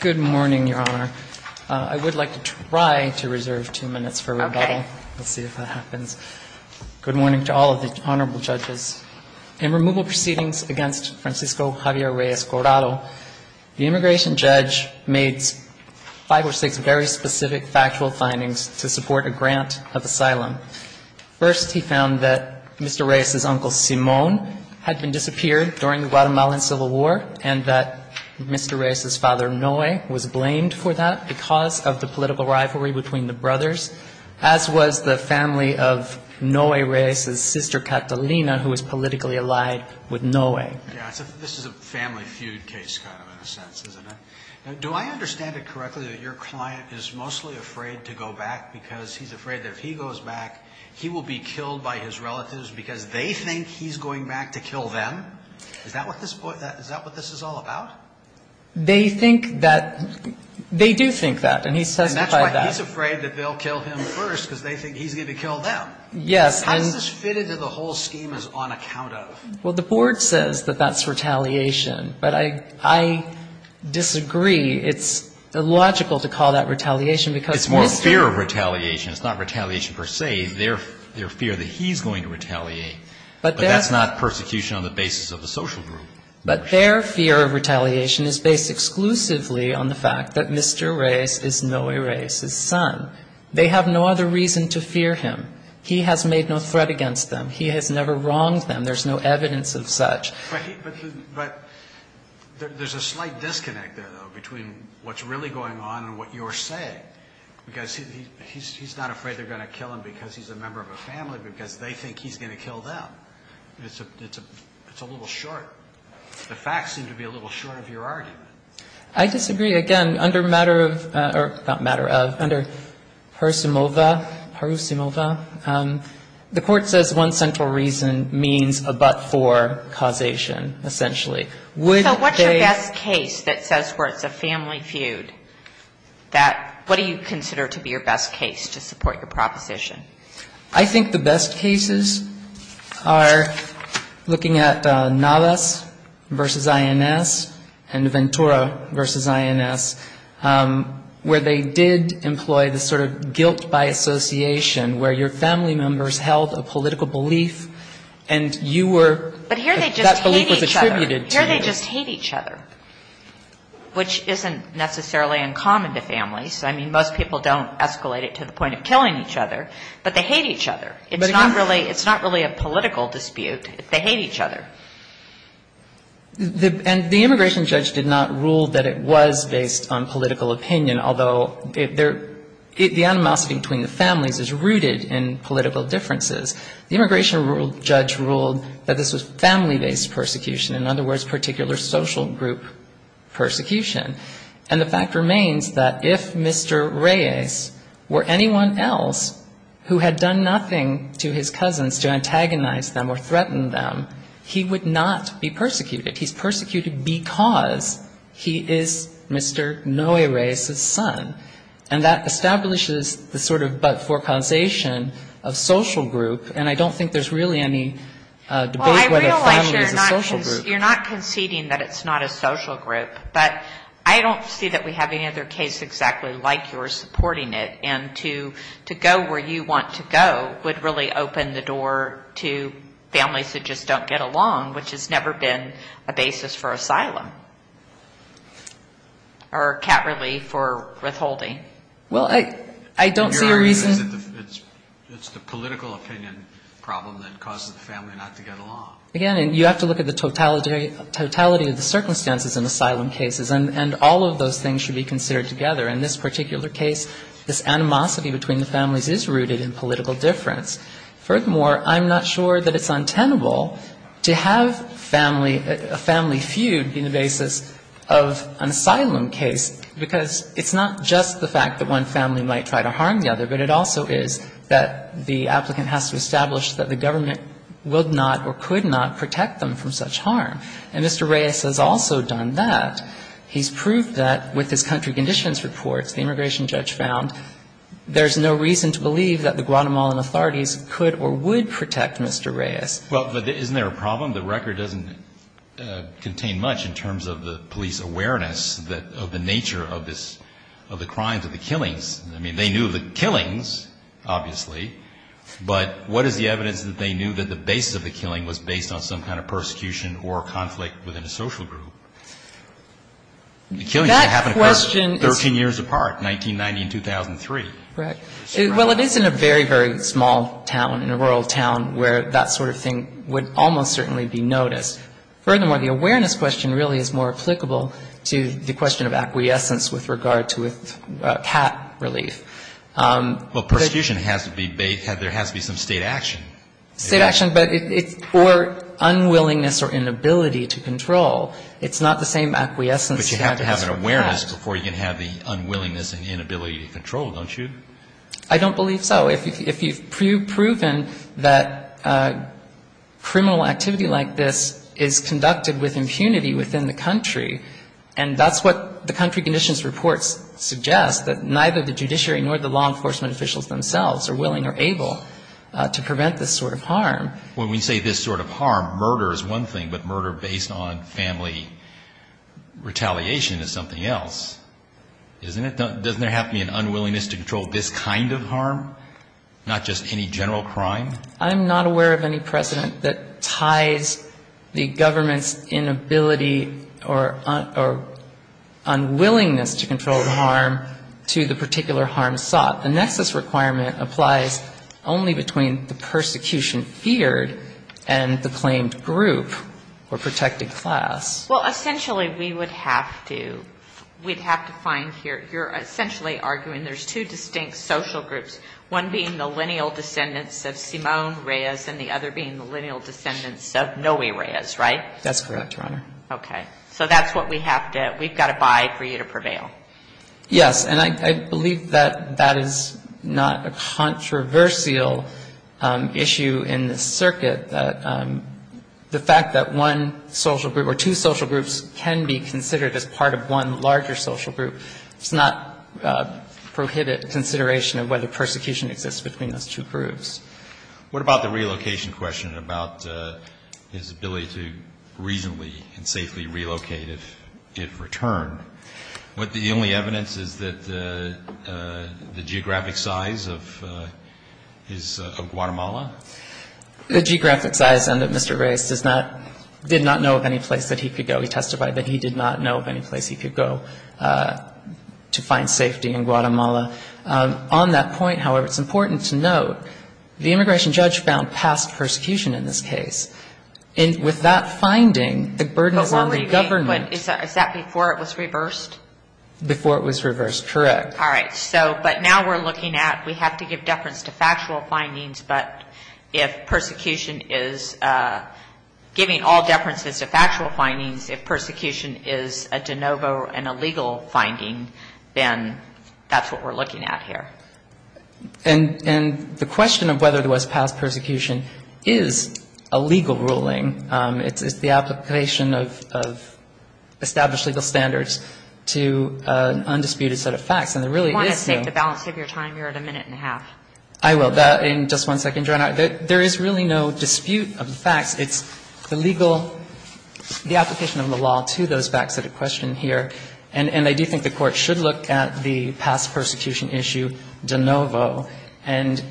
Good morning, Your Honor. I would like to try to reserve two minutes for rebuttal. Let's see if that happens. Good morning to all of the honorable judges. In removal proceedings against Francisco Javier Reyes-Corado, the immigration judge made five or six very specific factual findings to support a grant of asylum. First, he found that Mr. Reyes' uncle, Simon, had been disappeared during the Guatemalan Civil War, and that Mr. Reyes' father, Noe, was blamed for that because of the political rivalry between the brothers, as was the family of Noe Reyes' sister, Catalina, who was politically allied with Noe. This is a family feud case kind of in a sense, isn't it? Do I understand it correctly that your client is mostly afraid to go back because he's afraid that if he goes back, he will be killed by his relatives because they think he's going back to kill them? Is that what this is all about? They think that they do think that, and he's testified that. And that's why he's afraid that they'll kill him first because they think he's going to kill them. Yes. How does this fit into the whole scheme as on account of? Well, the Board says that that's retaliation, but I disagree. It's illogical to call that retaliation because Mr. Reyes' uncle was killed. They're afraid that he's going to retaliate, but that's not persecution on the basis of the social group. But their fear of retaliation is based exclusively on the fact that Mr. Reyes is Noe Reyes' son. They have no other reason to fear him. He has made no threat against them. He has never wronged them. There's no evidence of such. But there's a slight disconnect there, though, between what's really going on and what you're saying, because he's not afraid they're going to kill him because he's a member of a family, because they think he's going to kill them. It's a little short. The facts seem to be a little short of your argument. I disagree. Again, under matter of or not matter of, under persimova, perusimova, the Court says one central reason means a but-for causation, essentially. So what's your best case that says where it's a family feud? That what do you consider to be your best case to support your proposition? I think the best cases are looking at Navas v. INS and Ventura v. INS, where they did employ the sort of guilt by association, where your family members held a political belief and you were – But here they just hate each other. That belief was attributed to you. They just hate each other, which isn't necessarily uncommon to families. I mean, most people don't escalate it to the point of killing each other, but they hate each other. It's not really a political dispute. They hate each other. And the immigration judge did not rule that it was based on political opinion, although the animosity between the families is rooted in political differences. The immigration judge ruled that this was family-based persecution. In other words, particular social group persecution. And the fact remains that if Mr. Reyes were anyone else who had done nothing to his cousins to antagonize them or threaten them, he would not be persecuted. He's persecuted because he is Mr. Noe Reyes's son. And that establishes the sort of but-for causation of social group. And I don't think there's really any debate whether family is a social group. You're not conceding that it's not a social group. But I don't see that we have any other case exactly like yours supporting it. And to go where you want to go would really open the door to families that just don't get along, which has never been a basis for asylum. Or cat relief or withholding. Well, I don't see a reason. It's the political opinion problem that causes the family not to get along. Again, you have to look at the totality of the circumstances in asylum cases, and all of those things should be considered together. In this particular case, this animosity between the families is rooted in political difference. Furthermore, I'm not sure that it's untenable to have a family feud be the basis of an asylum case, because it's not just the fact that one family might try to harm the other, but it also is that the applicant has to establish that the government would not or could not protect them from such harm. And Mr. Reyes has also done that. He's proved that with his country conditions reports, the immigration judge found there's no reason to believe that the Guatemalan authorities could or would protect Mr. Reyes. Well, but isn't there a problem? The record doesn't contain much in terms of the police awareness of the nature of this, of the crimes, of the killings. I mean, they knew of the killings, obviously, but what is the evidence that they knew that the basis of the killing was based on some kind of persecution or conflict within a social group? The killings didn't happen 13 years apart, 1990 and 2003. Right. Well, it is in a very, very small town, in a rural town, where that sort of thing would almost certainly be noticed. Furthermore, the awareness question really is more applicable to the question of acquiescence with regard to CAT relief. Well, persecution has to be based, there has to be some state action. State action, but it's for unwillingness or inability to control. It's not the same acquiescence you have to have for CAT. But you have to have an awareness before you can have the unwillingness and inability to control, don't you? I don't believe so. If you've proven that criminal activity like this is conducted with impunity within the country, and that's what the country conditions reports suggest, that neither the judiciary nor the law enforcement officials themselves are willing or able to prevent this sort of harm. When we say this sort of harm, murder is one thing, but murder based on family retaliation is something else, isn't it? Doesn't there have to be an unwillingness to control this kind of harm, not just any general crime? I'm not aware of any precedent that ties the government's inability or unwillingness to control the harm to the particular harm sought. The nexus requirement applies only between the persecution feared and the claimed group or protected class. Well, essentially we would have to, we'd have to find here, you're essentially arguing there's two distinct social groups, one being the lineal descendants of Simone Reyes and the other being the lineal descendants of Noe Reyes, right? That's correct, Your Honor. Okay. So that's what we have to, we've got to buy for you to prevail. Yes. And I believe that that is not a controversial issue in this circuit, that the fact that one social group or two social groups can be considered as part of one larger social group does not prohibit consideration of whether persecution exists between those two groups. What about the relocation question about his ability to reasonably and safely relocate if returned? The only evidence is that the geographic size of his, of Guatemala? The geographic size and that Mr. Reyes does not, did not know of any place that he could go. We testified that he did not know of any place he could go to find safety in Guatemala. On that point, however, it's important to note, the immigration judge found past persecution in this case. And with that finding, the burden is on the government. But is that before it was reversed? Before it was reversed, correct. All right. So, but now we're looking at, we have to give deference to factual findings, but if persecution is, giving all deference to factual findings, if persecution is a de novo and a legal finding, then that's what we're looking at here. And the question of whether there was past persecution is a legal ruling. It's the application of established legal standards to an undisputed set of facts. And there really is no You want to take the balance of your time? You're at a minute and a half. I will. In just one second, Your Honor. There is really no dispute of the facts. It's the legal, the application of the law to those facts that are questioned here. And I do think the Court should look at the past persecution issue de novo. And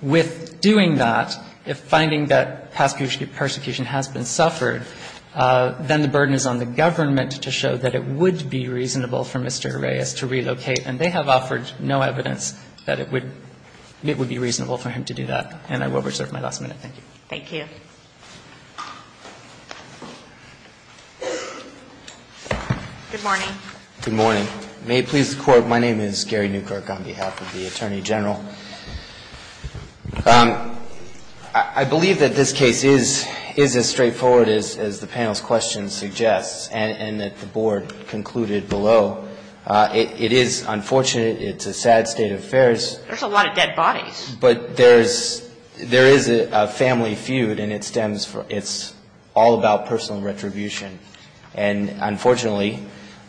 with doing that, if finding that past persecution has been suffered, then the burden is on the government to show that it would be reasonable for Mr. Reyes to relocate. And they have offered no evidence that it would be reasonable for him to do that. And I will reserve my last minute. Thank you. Thank you. Good morning. Good morning. May it please the Court, my name is Gary Newkirk on behalf of the Attorney General. I believe that this case is as straightforward as the panel's question suggests and that the Board concluded below. It is unfortunate. It's a sad state of affairs. There's a lot of dead bodies. But there is a family feud, and it stems from, it's all about personal retribution. And unfortunately,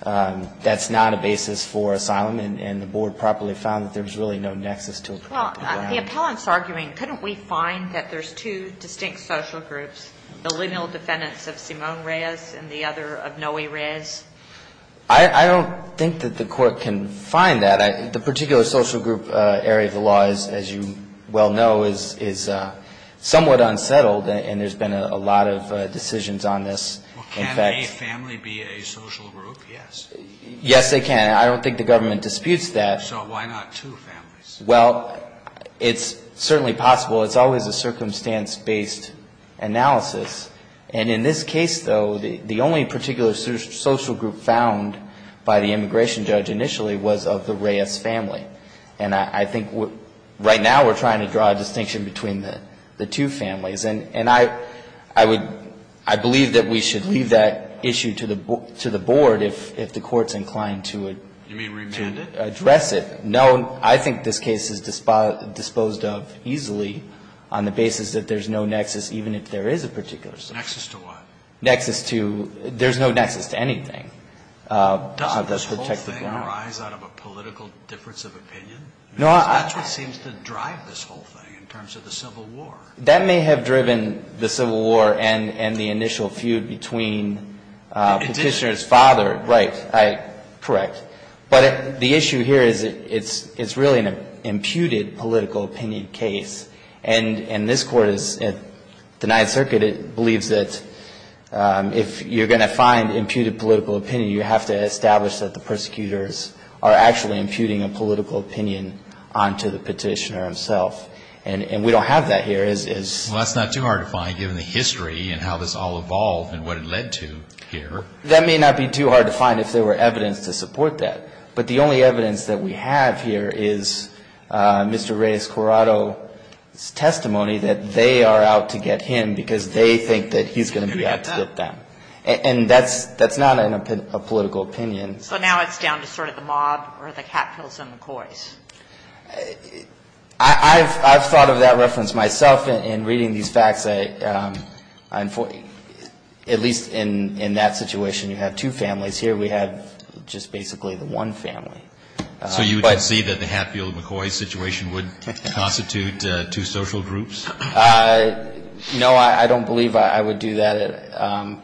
that's not a basis for asylum. And the Board properly found that there's really no nexus to it. Well, the appellant's arguing, couldn't we find that there's two distinct social groups, the lineal defendants of Simone Reyes and the other of Noe Reyes? I don't think that the Court can find that. The particular social group area of the law, as you well know, is somewhat unsettled. And there's been a lot of decisions on this. Well, can a family be a social group? Yes. Yes, they can. I don't think the government disputes that. So why not two families? Well, it's certainly possible. It's always a circumstance-based analysis. And in this case, though, the only particular social group found by the immigration judge initially was of the Reyes family. And I think right now we're trying to draw a distinction between the two families. And I would – I believe that we should leave that issue to the Board if the Court's inclined to address it. You mean remand it? No, I think this case is disposed of easily on the basis that there's no nexus, even if there is a particular social group. Nexus to what? Nexus to – there's no nexus to anything. Doesn't this whole thing arise out of a political difference of opinion? No, I – Because that's what seems to drive this whole thing in terms of the Civil War. That may have driven the Civil War and the initial feud between Petitioner's father. Right. Correct. But the issue here is it's really an imputed political opinion case. And this Court is – the Ninth Circuit believes that if you're going to find imputed political opinion, you have to establish that the persecutors are actually imputing a political opinion onto the Petitioner himself. And we don't have that here. Well, that's not too hard to find, given the history and how this all evolved and what it led to here. That may not be too hard to find if there were evidence to support that. But the only evidence that we have here is Mr. Reyes-Corrado's testimony that they are out to get him because they think that he's going to be out to get them. And that's not a political opinion. So now it's down to sort of the mob or the cat pills and the coys. I've thought of that reference myself in reading these facts. At least in that situation you have two families. Here we have just basically the one family. So you would concede that the Hatfield-McCoy situation would constitute two social groups? No, I don't believe I would do that.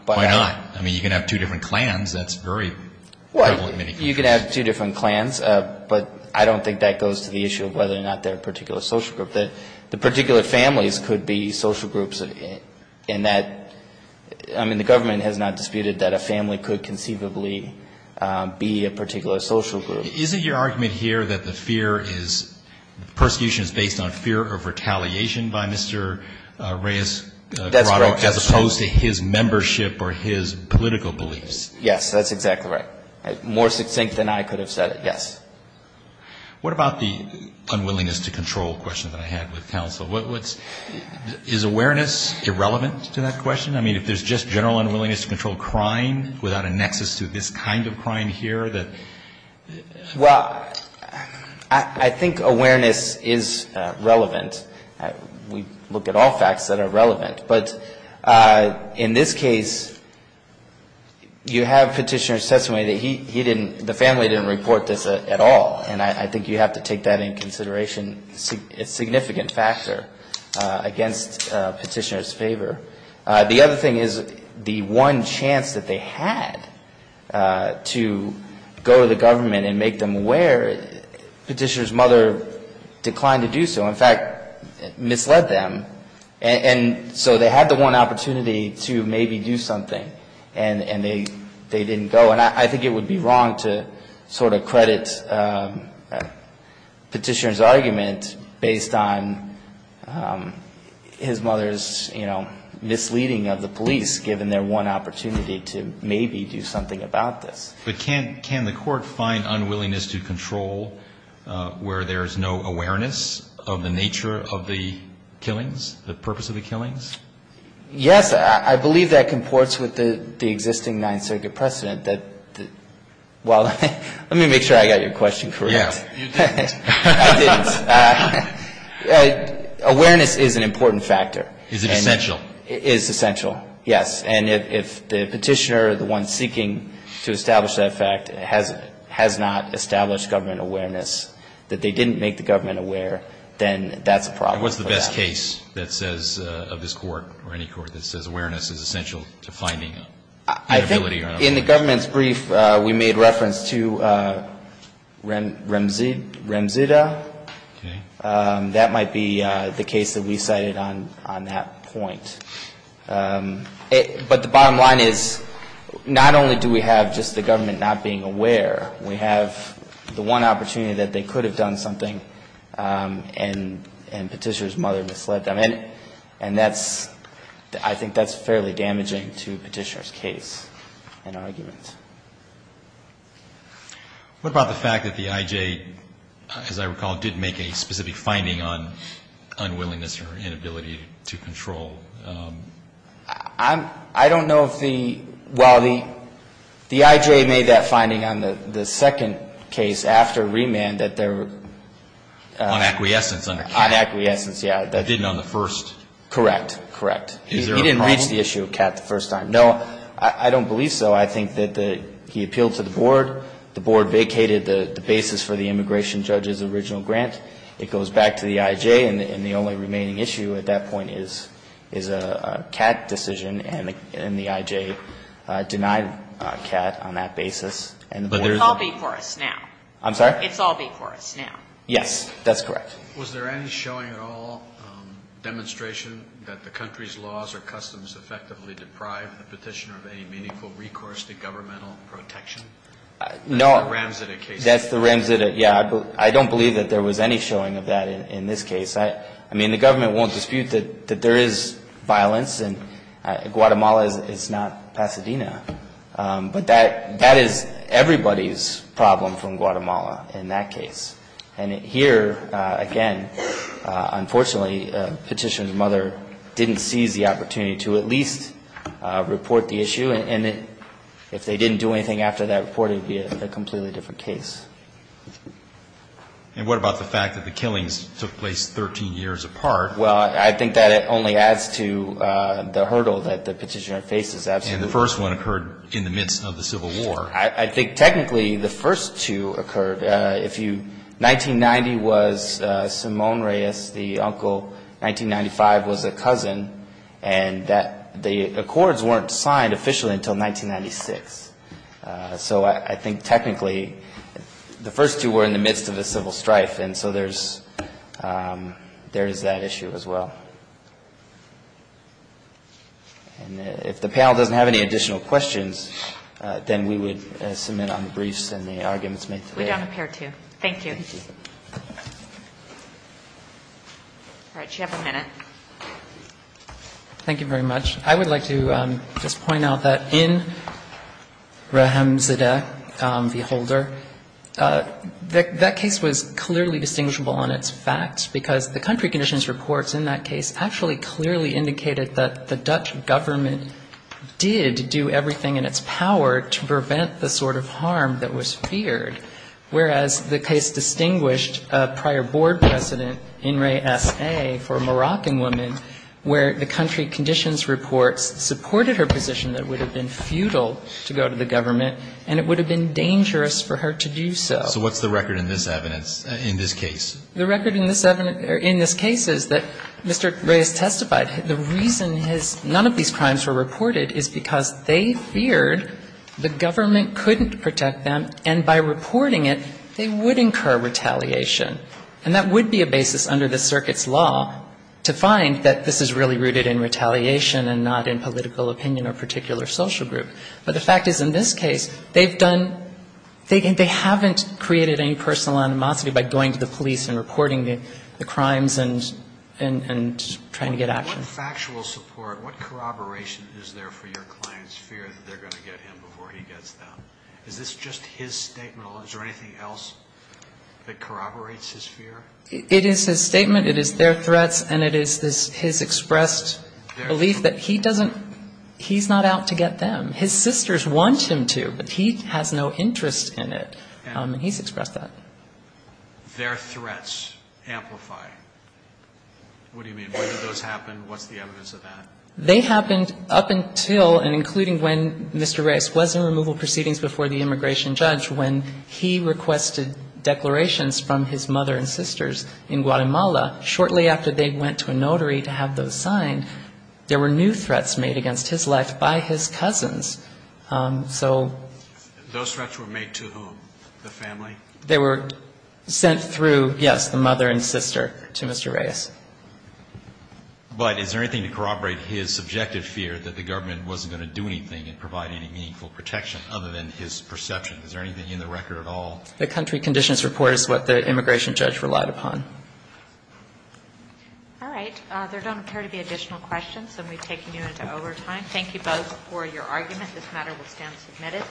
Why not? I mean, you can have two different clans. That's very prevalent in many countries. You can have two different clans, but I don't think that goes to the issue of whether or not they're a particular social group. The particular families could be social groups in that. I mean, the government has not disputed that a family could conceivably be a particular social group. Isn't your argument here that the fear is, the persecution is based on fear of retaliation by Mr. Reyes-Corrado as opposed to his membership or his political beliefs? Yes, that's exactly right. More succinct than I could have said it, yes. What about the unwillingness to control question that I had with counsel? Is awareness irrelevant to that question? I mean, if there's just general unwillingness to control crime without a nexus to this kind of crime here? Well, I think awareness is relevant. We look at all facts that are relevant. But in this case, you have Petitioner's testimony that he didn't, the family didn't report this at all. And I think you have to take that into consideration. It's a significant factor against Petitioner's favor. The other thing is the one chance that they had to go to the government and make them aware, Petitioner's mother declined to do so, in fact, misled them. And so they had the one opportunity to maybe do something, and they didn't go. And I think it would be wrong to sort of credit Petitioner's argument based on his mother's, you know, misleading of the police given their one opportunity to maybe do something about this. But can the Court find unwillingness to control where there's no awareness of the nature of the killings, the purpose of the killings? Yes. I believe that comports with the existing Ninth Circuit precedent that, well, let me make sure I got your question correct. Yeah. You didn't. I didn't. Awareness is an important factor. Is it essential? It is essential, yes. And if the Petitioner, the one seeking to establish that fact, has not established government awareness, that they didn't make the government aware, then that's a problem. And what's the best case that says, of this Court or any Court that says awareness is essential to finding inability or unwillingness? I think in the government's brief, we made reference to Ramzida. Okay. That might be the case that we cited on that point. But the bottom line is, not only do we have just the government not being aware, we have the one opportunity that they could have done something and Petitioner's mother misled them. And that's, I think that's fairly damaging to Petitioner's case and argument. What about the fact that the IJ, as I recall, did make a specific finding on unwillingness or inability to control? I don't know if the, well, the IJ made that finding on the second case after remand that there were. On acquiescence under Catt. On acquiescence, yeah. Didn't on the first. Correct, correct. Is there a problem? He didn't reach the issue of Catt the first time. No, I don't believe so. I think that he appealed to the Board. The Board vacated the basis for the immigration judge's original grant. It goes back to the IJ. And the only remaining issue at that point is a Catt decision. And the IJ denied Catt on that basis. It's all before us now. I'm sorry? It's all before us now. Yes. That's correct. Was there any showing at all, demonstration that the country's laws or customs effectively deprive the Petitioner of any meaningful recourse to governmental protection? No. That's the Ramsitic case. That's the Ramsitic. I don't believe that there was any showing of that in this case. I mean, the government won't dispute that there is violence. And Guatemala is not Pasadena. But that is everybody's problem from Guatemala in that case. And here, again, unfortunately, Petitioner's mother didn't seize the opportunity to at least report the issue. And if they didn't do anything after that report, it would be a completely different case. And what about the fact that the killings took place 13 years apart? Well, I think that it only adds to the hurdle that the Petitioner faces. And the first one occurred in the midst of the Civil War. I think technically the first two occurred. If you 1990 was Simone Reyes, the uncle. 1995 was a cousin. And the accords weren't signed officially until 1996. So I think technically the first two were in the midst of a civil strife. And so there's that issue as well. And if the panel doesn't have any additional questions, then we would submit on the briefs and the arguments made today. We don't appear to. Thank you. Thank you. All right. Do you have a minute? Thank you very much. I would like to just point out that in Raham Zadeh, the holder, that case was clearly distinguishable on its facts, because the country conditions reports in that case actually clearly indicated that the Dutch government did do everything in its power to prevent the sort of harm that was feared. Whereas the case distinguished a prior board precedent in Ray S.A. for a Moroccan woman, where the country conditions reports supported her position that it would have been futile to go to the government and it would have been dangerous for her to do so. So what's the record in this evidence, in this case? The record in this case is that Mr. Reyes testified. The reason none of these crimes were reported is because they feared the government couldn't protect them, and by reporting it, they would incur retaliation. And that would be a basis under the circuit's law to find that this is really rooted in retaliation and not in political opinion or particular social group. But the fact is, in this case, they've done – they haven't created any personal animosity by going to the police and reporting the crimes and trying to get action. In factual support, what corroboration is there for your client's fear that they're going to get him before he gets them? Is this just his statement, or is there anything else that corroborates his fear? It is his statement, it is their threats, and it is his expressed belief that he doesn't – he's not out to get them. His sisters want him to, but he has no interest in it, and he's expressed that. Their threats amplify. What do you mean? When did those happen? What's the evidence of that? They happened up until and including when Mr. Reyes was in removal proceedings before the immigration judge when he requested declarations from his mother and sisters in Guatemala. Shortly after they went to a notary to have those signed, there were new threats made against his life by his cousins. So – Those threats were made to whom? The family? They were sent through, yes, the mother and sister to Mr. Reyes. But is there anything to corroborate his subjective fear that the government wasn't going to do anything and provide any meaningful protection other than his perception? Is there anything in the record at all? The country conditions report is what the immigration judge relied upon. All right. There don't appear to be additional questions, and we've taken you into overtime. Thank you both for your argument. This matter will stand submitted.